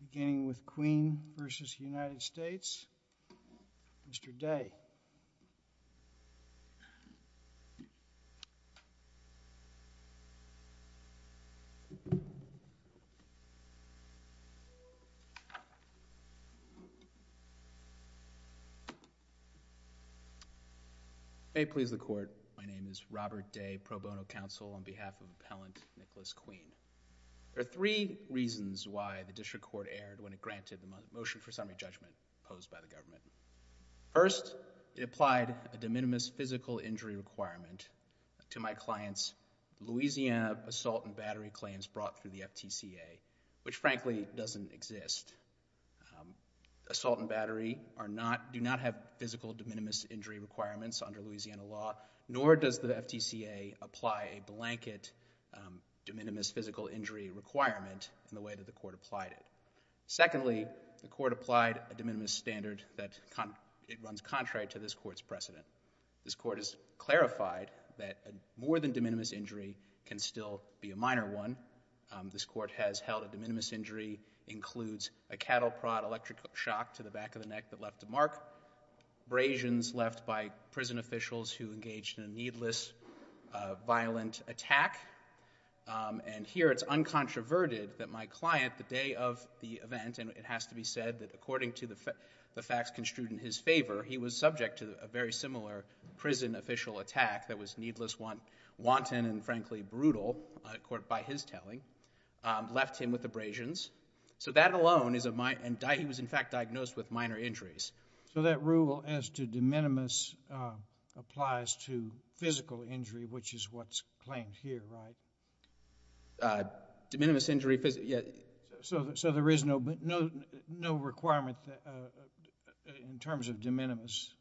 Beginning with Queen v. United States, Mr. Day. May it please the Court, my name is Robert Day, pro bono counsel on behalf of Appellant Nicholas Queen. There are three reasons why the District Court erred when it granted the motion for summary judgment posed by the government. First, it applied a de minimis physical injury requirement to my client's Louisiana assault and battery claims brought through the FTCA, which frankly doesn't exist. Assault and battery do not have physical de minimis injury requirements under Louisiana law, nor does the FTCA apply a blanket de minimis physical injury requirement in the way that the Court applied it. Secondly, the Court applied a de minimis standard that it runs contrary to this Court's precedent. This Court has clarified that more than de minimis injury can still be a minor one. This Court has held a de minimis injury includes a cattle prod electric shock to the back of the neck that left a mark, abrasions left by prison officials who engaged in a needless violent attack, and here it's uncontroverted that my client, the day of the event, and it has to be said that according to the facts construed in his favor, he was subject to a very similar prison official attack that was needless, wanton, and frankly brutal by his telling, left him with abrasions. So that alone is a minor, and he was in fact diagnosed with minor injuries. So that rule as to de minimis applies to physical injury, which is what's claimed here, right? De minimis injury, yeah. So there is no requirement in terms of de minimis?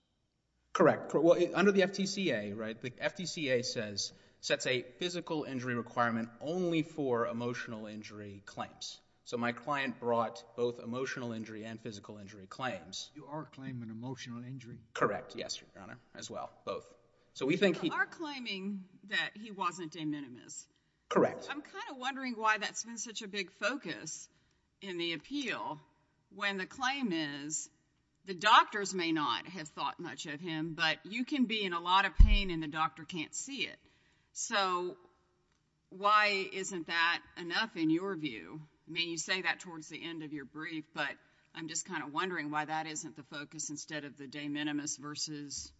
Correct. Under the FDCA, right, the FDCA says, sets a physical injury requirement only for emotional injury claims. So my client brought both emotional injury and physical injury claims. You are claiming emotional injury? Correct, yes, your Honor, as well, both. So we think he... You are claiming that he wasn't de minimis. Correct. I'm kind of wondering why that's been such a big focus in the appeal when the claim is the doctors may not have thought much of him, but you can be in a lot of pain and the doctor can't see it. So why isn't that enough in your view? I mean, you say that towards the end of your brief, but I'm just kind of wondering why that isn't the focus instead of the de minimis versus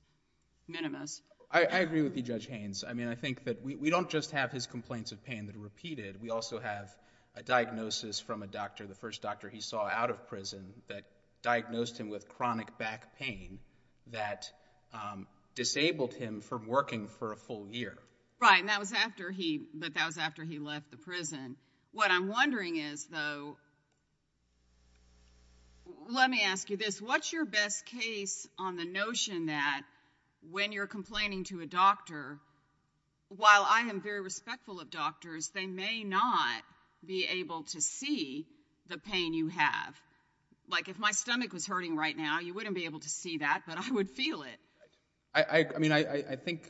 minimis. I agree with you, Judge Haynes. I mean, I think that we don't just have his complaints of pain that are repeated. We also have a diagnosis from a doctor, the first doctor he saw out of prison, that diagnosed him with chronic back pain that disabled him from working for a full year. Right, and that was after he... but that was after he left the prison. What I'm wondering is, though, let me ask you this. What's your best case on the notion that when you're complaining to a doctor, while I am very respectful of doctors, they may not be able to see the pain you have? Like, if my stomach was hurting right now, you wouldn't be able to see that, but I would feel it. I mean, I think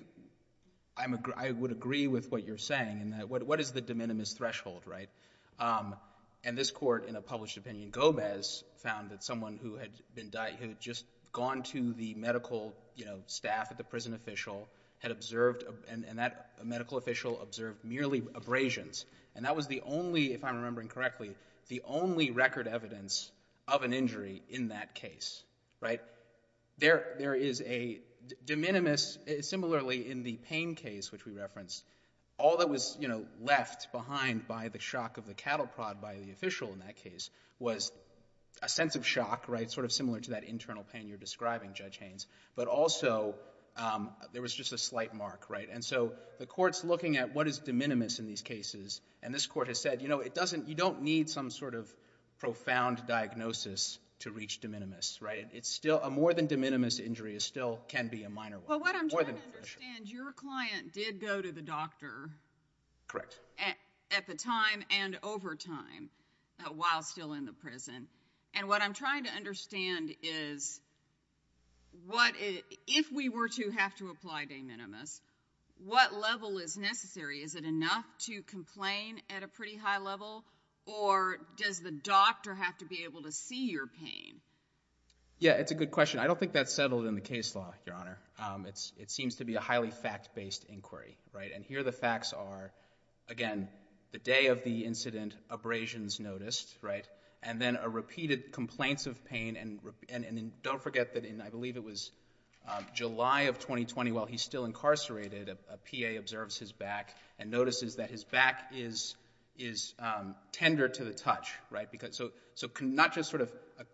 I would agree with what you're saying in that, what is the de minimis threshold, right? And this court, in a published opinion, Gomez, found that someone who had just gone to the medical staff at the prison official had observed, and that medical official observed merely abrasions. And that was the only, if I'm remembering correctly, the only record evidence of an injury in that case, right? There is a de minimis, similarly in the pain case which we referenced, all that was, you know, left behind by the shock of the cattle prod by the official in that case was a sense of shock, right, sort of similar to that internal pain you're describing, Judge Haynes, but also there was just a slight mark, right? And so the court's looking at what is de minimis in these cases, and this court has said, you know, it doesn't, you don't need some sort of profound diagnosis to reach de minimis, right? It's still, a more than de minimis injury is still, can be a minor one. Your client did go to the doctor. Correct. At the time and over time while still in the prison, and what I'm trying to understand is what, if we were to have to apply de minimis, what level is necessary? Is it enough to complain at a pretty high level, or does the doctor have to be able to see your pain? Yeah, it's a good question. I don't think that's settled in the case law, Your Honor. It's, it seems to be a highly fact-based inquiry, right? And here the facts are, again, the day of the incident abrasions noticed, right? And then a repeated complaints of pain, and don't forget that in, I believe it was July of 2020 while he's still incarcerated, a PA observes his back and notices that his back is tender to the touch, right? Because, so not just sort of a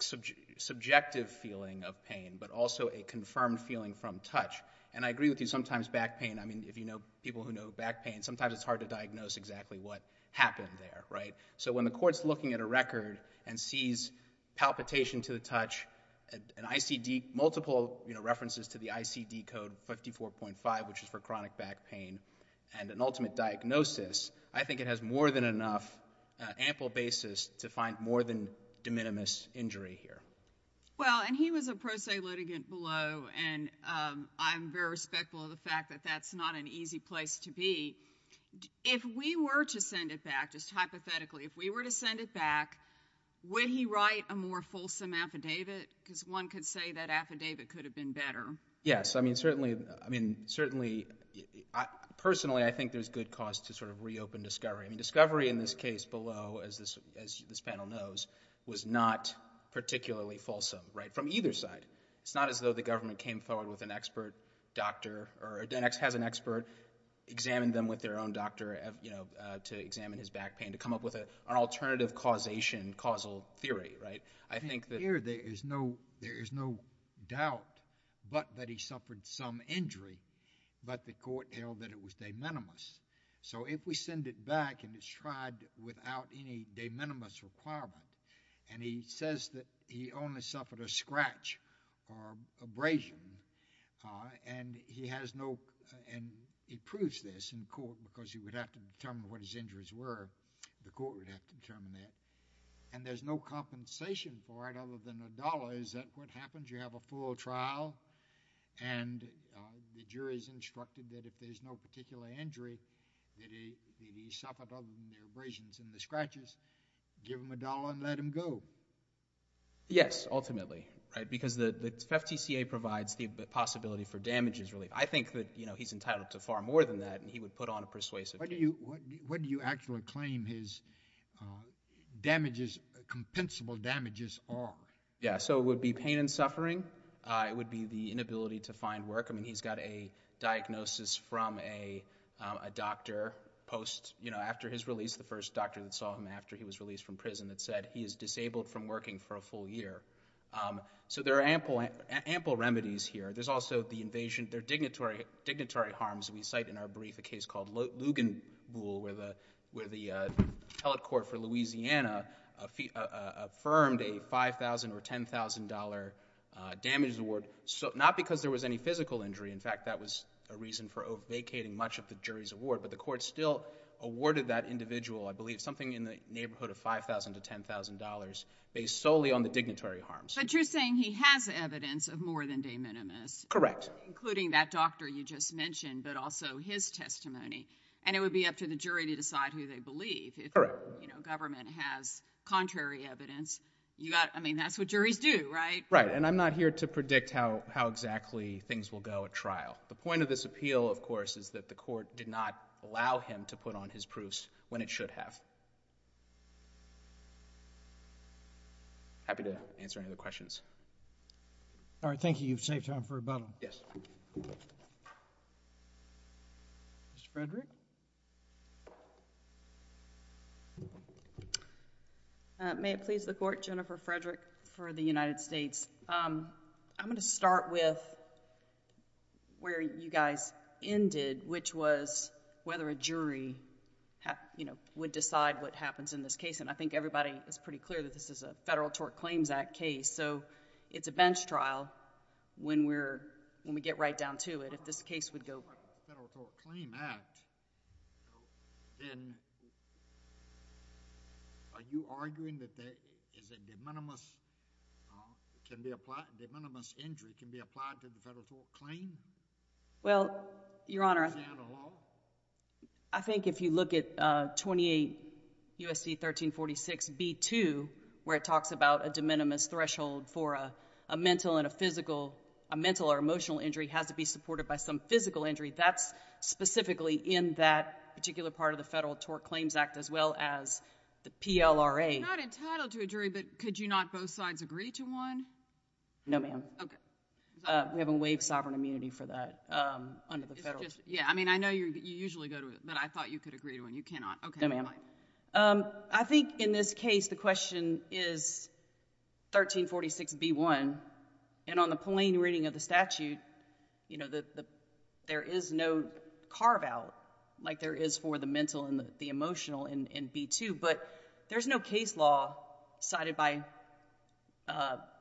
subjective feeling of pain, but also a confirmed feeling from touch. And I agree with you, sometimes back pain, I mean, if you know people who know back pain, sometimes it's hard to diagnose exactly what happened there, right? So when the court's looking at a record and sees palpitation to the touch, an ICD, multiple references to the ICD code 54.5, which is for chronic back pain, and an ultimate diagnosis, I think it has more than enough ample basis to find more than de minimis injury here. Well, and he was a pro se litigant below, and I'm very respectful of the fact that that's not an easy place to be. If we were to send it back, just hypothetically, if we were to send it back, would he write a more fulsome affidavit? Because one could say that affidavit could have been better. Yes, I mean, certainly, I mean, certainly, personally, I think there's good cause to sort of reopen discovery. I mean, discovery in this case below, as this, as this panel knows, was not particularly fulsome, right? From either side. It's not as though the government came forward with an expert doctor, or a DENX has an expert, examine them with their own doctor, you know, to examine his back pain, to come up with an alternative causation, causal theory, right? I think that here there is no, there is no doubt, but that he suffered some injury, but the court held that it was de minimis. So if we send it back, and it's tried without any de minimis requirement, and he says that he only suffered a scratch or abrasion, and he has no, and he proves this in court, because he would have to determine what his injuries were, the court would have to determine that, and there's no compensation for it other than a dollar. Is that what happens? You have a full trial, and the jury's instructed that if there's no particular injury, that he suffered other than the abrasions and the scratches, give him a dollar and let him go. Yes, ultimately, right? Because the FFTCA provides the possibility for damages relief. I think that, you know, he's entitled to far more than that, and he would put on a persuasive case. What do you, what damages, compensable damages are? Yeah, so it would be pain and suffering. It would be the inability to find work. I mean, he's got a diagnosis from a doctor post, you know, after his release, the first doctor that saw him after he was released from prison that said he is disabled from working for a full year. So there are ample, ample remedies here. There's also the invasion, there are dignitary, dignitary harms. We cite in our brief a case called Lugenbuhl, where the, where the appellate court for Louisiana affirmed a $5,000 or $10,000 damage award, not because there was any physical injury. In fact, that was a reason for vacating much of the jury's award, but the court still awarded that individual, I believe, something in the neighborhood of $5,000 to $10,000, based solely on the dignitary harms. But you're saying he has evidence of more than de minimis. Correct. Including that doctor you just mentioned, but also his testimony, and it would be up to the jury to decide who they believe. Correct. You know, government has contrary evidence. You got, I mean, that's what juries do, right? Right. And I'm not here to predict how, how exactly things will go at trial. The point of this appeal, of course, is that the court did not allow him to put on his proofs when it should have. Happy to answer any other questions. All right, thank you. You've saved time for rebuttal. Yes. Mr. Frederick? May it please the Court, Jennifer Frederick for the United States. I'm going to start with where you guys ended, which was whether a jury, you know, would decide what happens in this case, and I think everybody is pretty clear that this is a Federal Tort Claims Act case, so it's a bench trial when we're, when we get right down to it. If this case would go... Federal Tort Claims Act, then are you arguing that there is a de minimis, can be applied, de minimis injury can be applied to the Federal Tort Claim? Well, Your Honor... Is that a law? I think if you look at 28 U.S.C. 1346b2, where it talks about a de minimis threshold for a mental and a physical, a mental or emotional injury has to be supported by some physical injury, that's specifically in that particular part of the Federal Tort Claims Act, as well as the PLRA. You're not entitled to a jury, but could you not both sides agree to one? No, ma'am. Okay. We haven't waived sovereign immunity for that under the Federal... It's just, yeah, I mean, I know you usually go to it, but I thought you could agree to one. You cannot. Okay. No, ma'am. I think in this case, the question is 1346b1, and on the plain reading of the statute, you know, there is no carve-out like there is for the mental and the emotional in b2, but there's no case law cited by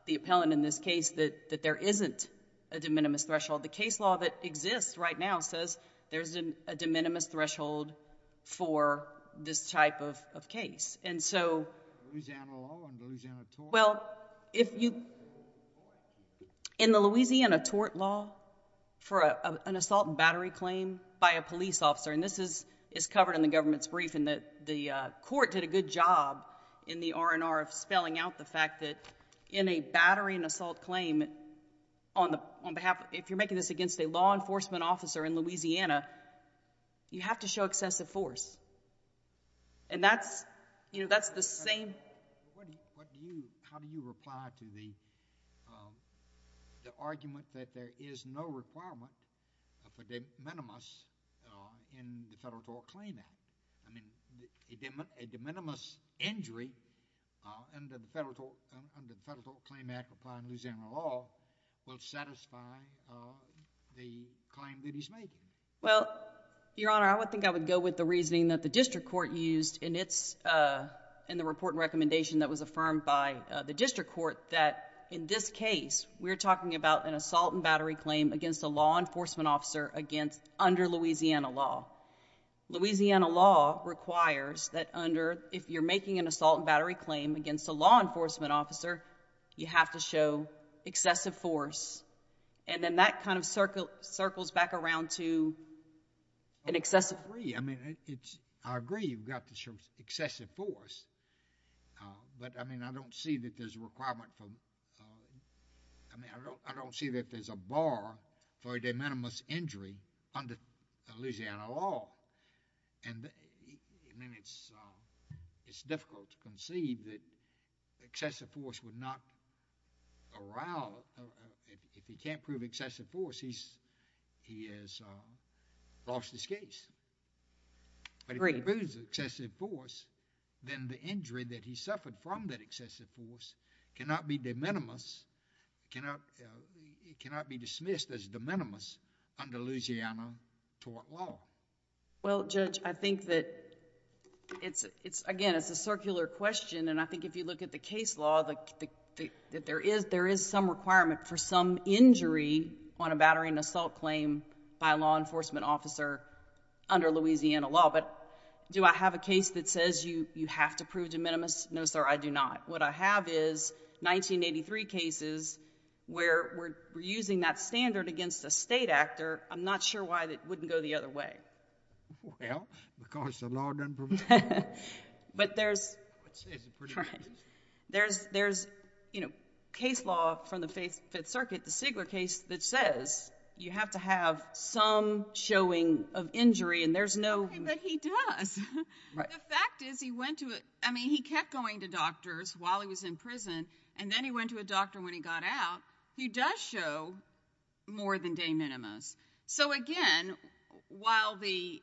the appellant in this case that there isn't a de minimis threshold. The case law that exists right now says there's a de minimis threshold for this type of case, and so... Louisiana law and the Louisiana tort? Well, if you... In the Louisiana tort law for an assault and battery claim by a police officer, and this is covered in the government's brief, and the court did a good job in the R&R of spelling out the fact that in a battery and assault claim on behalf... if you're making this against a law enforcement officer in Louisiana, you have to show excessive force, and that's, you know, that's the same... How do you reply to the argument that there is no requirement for de minimis in the Federal Tort Claim Act? I mean, a de minimis injury under the Federal Tort Claim Act upon Louisiana law will satisfy the claim that he's making. Well, Your Honor, I would think I would go with the reasoning that the district court used in its... in the report and recommendation that was affirmed by the district court that in this case, we're talking about an assault and battery claim against a law enforcement officer against... under Louisiana law. Louisiana law requires that under... if you're making an assault and battery claim against a law enforcement officer, you have to show excessive force, and then that kind of circles back around to an excessive... I agree. I mean, it's... I agree you've got to show excessive force, but, I mean, I don't see that there's a requirement for... I mean, I don't see that there's a bar for a de minimis injury under Louisiana law. I mean, it's difficult to conceive that excessive force would not... if he can't prove excessive force, he's... he has lost his case. But if he proves excessive force, then the injury that he suffered from that excessive force cannot be de minimis... it cannot be dismissed as de minimis under Louisiana tort law. Well, Judge, I think that it's, again, it's a circular question, and I think if you look at the case law, that there is some requirement for some injury on a battery and assault claim by a law enforcement officer under Louisiana law. But do I have a case that says you have to prove de minimis? No, sir, I do not. What I have is 1983 cases where we're using that standard against a state actor. I'm not sure why that wouldn't go the other way. Well, because the law doesn't... But there's... I would say it's a pretty good... There's, you know, case law from the Fifth Circuit, the Sigler case, that says you have to have some showing of injury, and there's no... The fact is, he went to a... I mean, he kept going to doctors while he was in prison, and then he went to a doctor when he got out. He does show more than de minimis. So, again, while the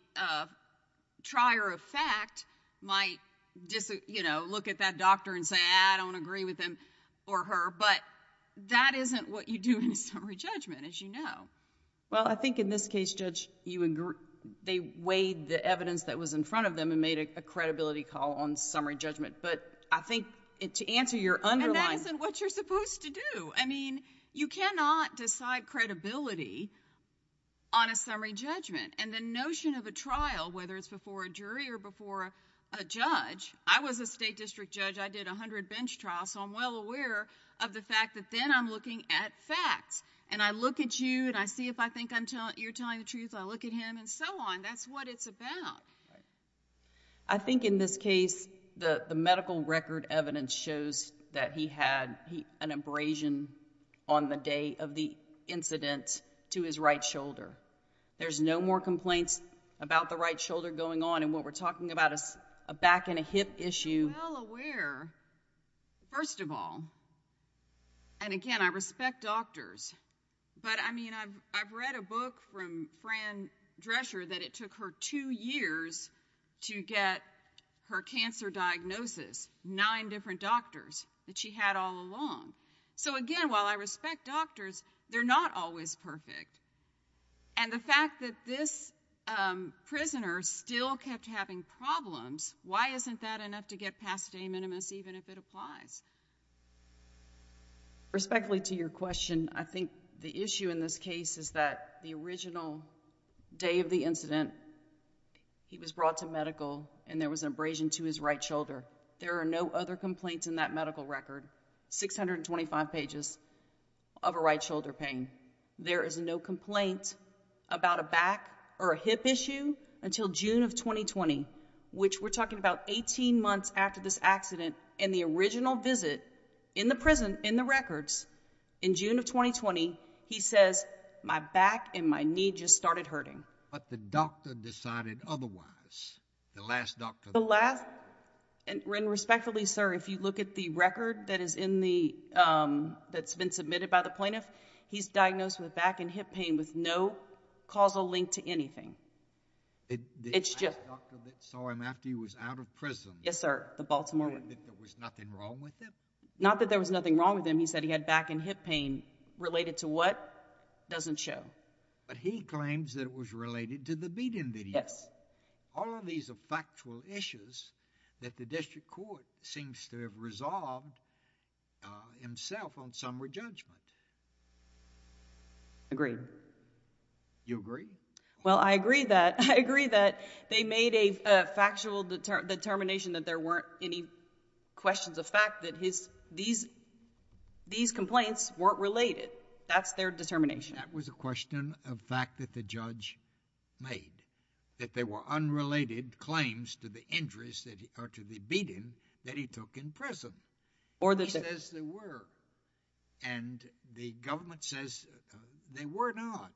trier of fact might, you know, look at that doctor and say, I don't agree with him or her, but that isn't what you do in a summary judgment, as you know. Well, I think in this case, Judge, you agree... They weighed the evidence that was in front of them and made a credibility call on summary judgment, but I think to answer your underlying... And that isn't what you're supposed to do. I mean, you cannot decide credibility on a summary judgment, and the notion of a trial, whether it's before a jury or before a judge... I was a state district judge. I did 100 bench trials, so I'm well aware of the fact that then I'm looking at facts, and I look at you, and I see if I think you're telling the truth. I look at him, and so on. That's what it's about. I think in this case, the medical record evidence shows that he had an abrasion on the day of the incident to his right shoulder. There's no more complaints about the right shoulder going on, and what we're talking about is a back and a hip issue... And again, I respect doctors, but I mean, I've read a book from Fran Drescher that it took her two years to get her cancer diagnosis. Nine different doctors that she had all along. So again, while I respect doctors, they're not always perfect, and the fact that this prisoner still kept having problems, why isn't that enough to get past de minimis, even if it applies? Respectfully to your question, I think the issue in this case is that the original day of the incident, he was brought to medical, and there was an abrasion to his right shoulder. There are no other complaints in that medical record, 625 pages of a right shoulder pain. There is no complaint about a back or a hip issue until June of 2020, which we're talking about 18 months after this accident, and the original visit in the prison, in the records, in June of 2020, he says, my back and my knee just started hurting. But the doctor decided otherwise. The last doctor... The last... And respectfully, sir, if you look at the record that is in the... that's been submitted by the plaintiff, he's diagnosed with back and hip pain with no causal link to anything. It's just... The last doctor that saw him after he was out of prison... Yes, sir. The Baltimore... Claimed that there was nothing wrong with him? Not that there was nothing wrong with him. He said he had back and hip pain. Related to what? It doesn't show. But he claims that it was related to the beating video. Yes. All of these are factual issues that the district court seems to have resolved himself on some re-judgment. Agreed. You agree? Well, I agree that... I agree that they made a factual determination that there weren't any questions of fact that his... these complaints weren't related. That's their determination. That was a question of fact that the judge made. That they were unrelated claims to the injuries that... or to the beating that he took in prison. Or that... And the government says they were not.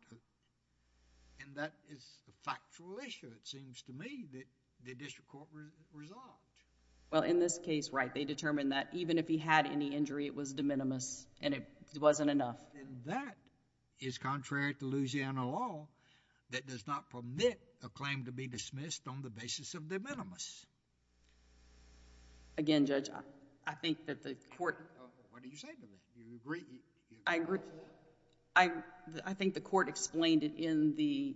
And that is a factual issue, it seems to me, that the district court resolved. Well, in this case, right, they determined that even if he had any injury, it was de minimis and it wasn't enough. And that is contrary to Louisiana law that does not permit a claim to be dismissed on the basis of de minimis. Again, Judge, I think that the court... What did you say to me? You agree? I agree... You agree to that? I think the court explained it in the...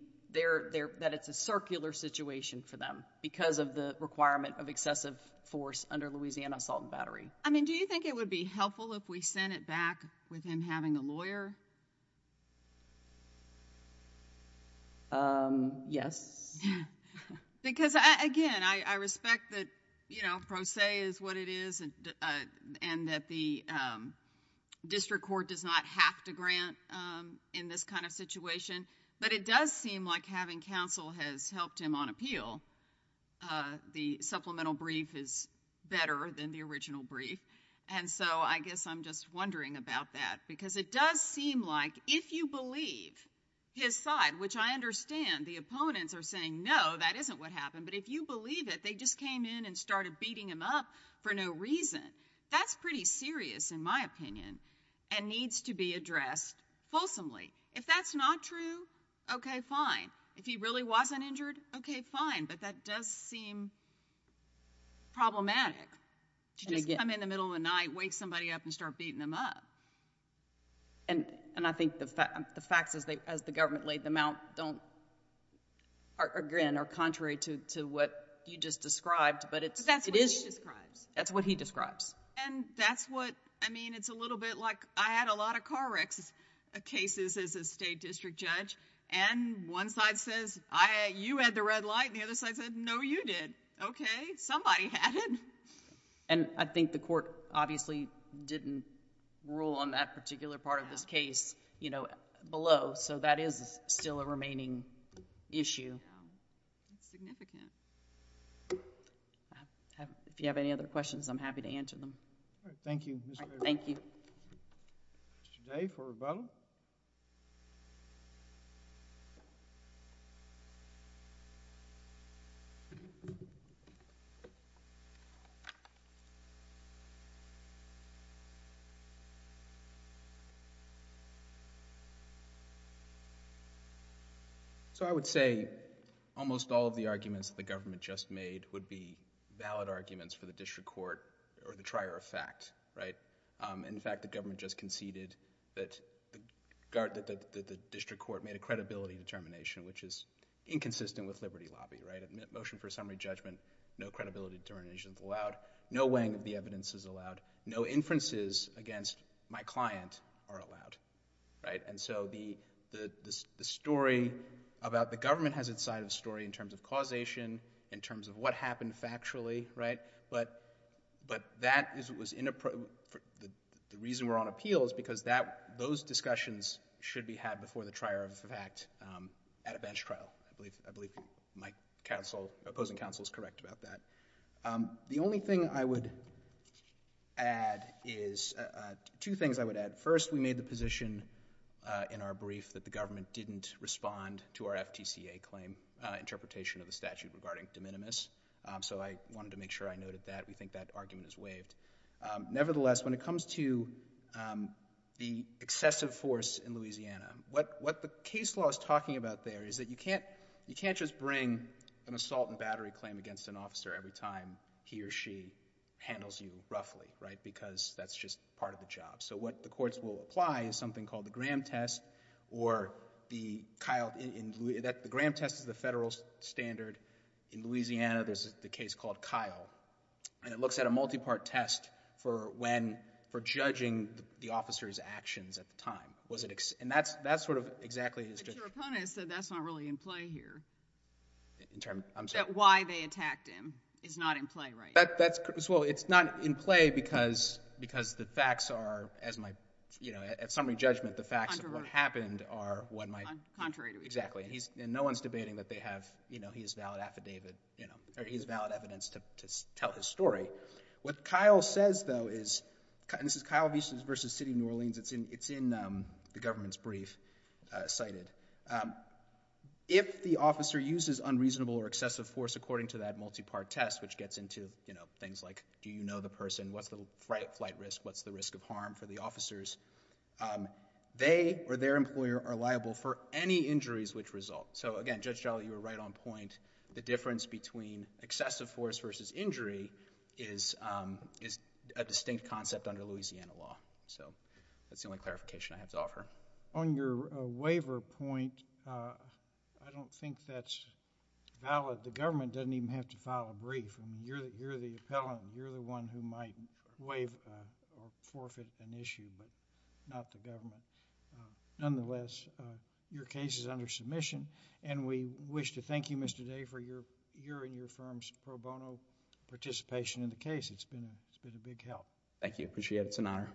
that it's a circular situation for them because of the requirement of excessive force under Louisiana assault and battery. I mean, do you think it would be helpful if we sent it back with him having a lawyer? Yes. Because, again, I respect that, you know, pro se is what it is and that the district court does not have to grant in this kind of situation. But it does seem like having counsel has helped him on appeal. The supplemental brief is better than the original brief. And so, I guess I'm just wondering about that because it does seem like if you believe his side, which I understand the opponents are saying, no, that isn't what happened, but if you believe it, they just came in and started beating him up for no reason. That's pretty serious, in my opinion, and needs to be addressed fulsomely. If that's not true, okay, fine. If he really wasn't injured, okay, fine. But that does seem problematic to just come in the middle of the night, wake somebody up, and start beating them up. And I think the facts as the government laid them out don't, again, are contrary to what you just described, but it's... But that's what he describes. That's what he describes. And that's what, I mean, it's a little bit like I had a lot of car wrecks cases as a state district judge, and one side says, you had the red light, and the other side said, no, you did. Okay, somebody had it. And I think the court obviously didn't rule on that particular part of this case, you know, below, so that is still a remaining issue. That's significant. If you have any other questions, I'm happy to answer them. All right. Thank you. Thank you. Mr. Day for rebuttal. So I would say almost all of the arguments that the government just made would be valid arguments for the district court or the trier of fact, right? In fact, the government just conceded that the district court made a credibility determination, which is inconsistent with liberty lobby, right? Motion for summary judgment, no credibility determination is allowed. No weighing of the evidence is allowed. No inferences against my client are allowed, right? And so the story about the government has its side of the story in terms of causation, in terms of what happened factually, right? But that was inappropriate. The reason we're on appeal is because those discussions should be had before the trier of fact at a bench trial. I believe my opposing counsel is correct about that. The only thing I would add is two things I would add. First, we made the position in our brief that the government didn't respond to our FTCA claim interpretation of the statute regarding de minimis. So I wanted to make sure I noted that. We think that argument is waived. Nevertheless, when it comes to the excessive force in Louisiana, what the case law is talking about there is that you can't just bring an assault and battery claim against an officer every time he or she handles you roughly, right? Because that's just part of the job. So what the courts will apply is something called the Graham test or the Kyle, the Graham test is the federal standard. In Louisiana, there's the case called Kyle, and it looks at a multi-part test for when, for judging the officer's actions at the time. And that sort of exactly is just. But your opponent said that's not really in play here. I'm sorry. That why they attacked him is not in play right now. Well, it's not in play because the facts are, as my, you know, at summary judgment, the facts of what happened are what my. Contrary to each other. Exactly. And no one's debating that they have, you know, he has valid affidavit, or he has valid evidence to tell his story. What Kyle says, though, is, and this is Kyle v. City of New Orleans. It's in the government's brief cited. If the officer uses unreasonable or excessive force, according to that multi-part test, which gets into, you know, things like, do you know the person? What's the flight risk? What's the risk of harm for the officers? They or their employer are liable for any injuries which result. So again, Judge Jolly, you were right on point. The difference between excessive force versus injury is a distinct concept under Louisiana law. So, that's the only clarification I have to offer. On your waiver point, I don't think that's valid. The government doesn't even have to file a brief. I mean, you're the appellant. You're the one who might waive or forfeit an issue, but not the government. Nonetheless, your case is under submission and we wish to thank you, Mr. Day, for your, your and your firm's pro bono participation in the case. It's been a big help. Thank you. I appreciate it. It's an honor.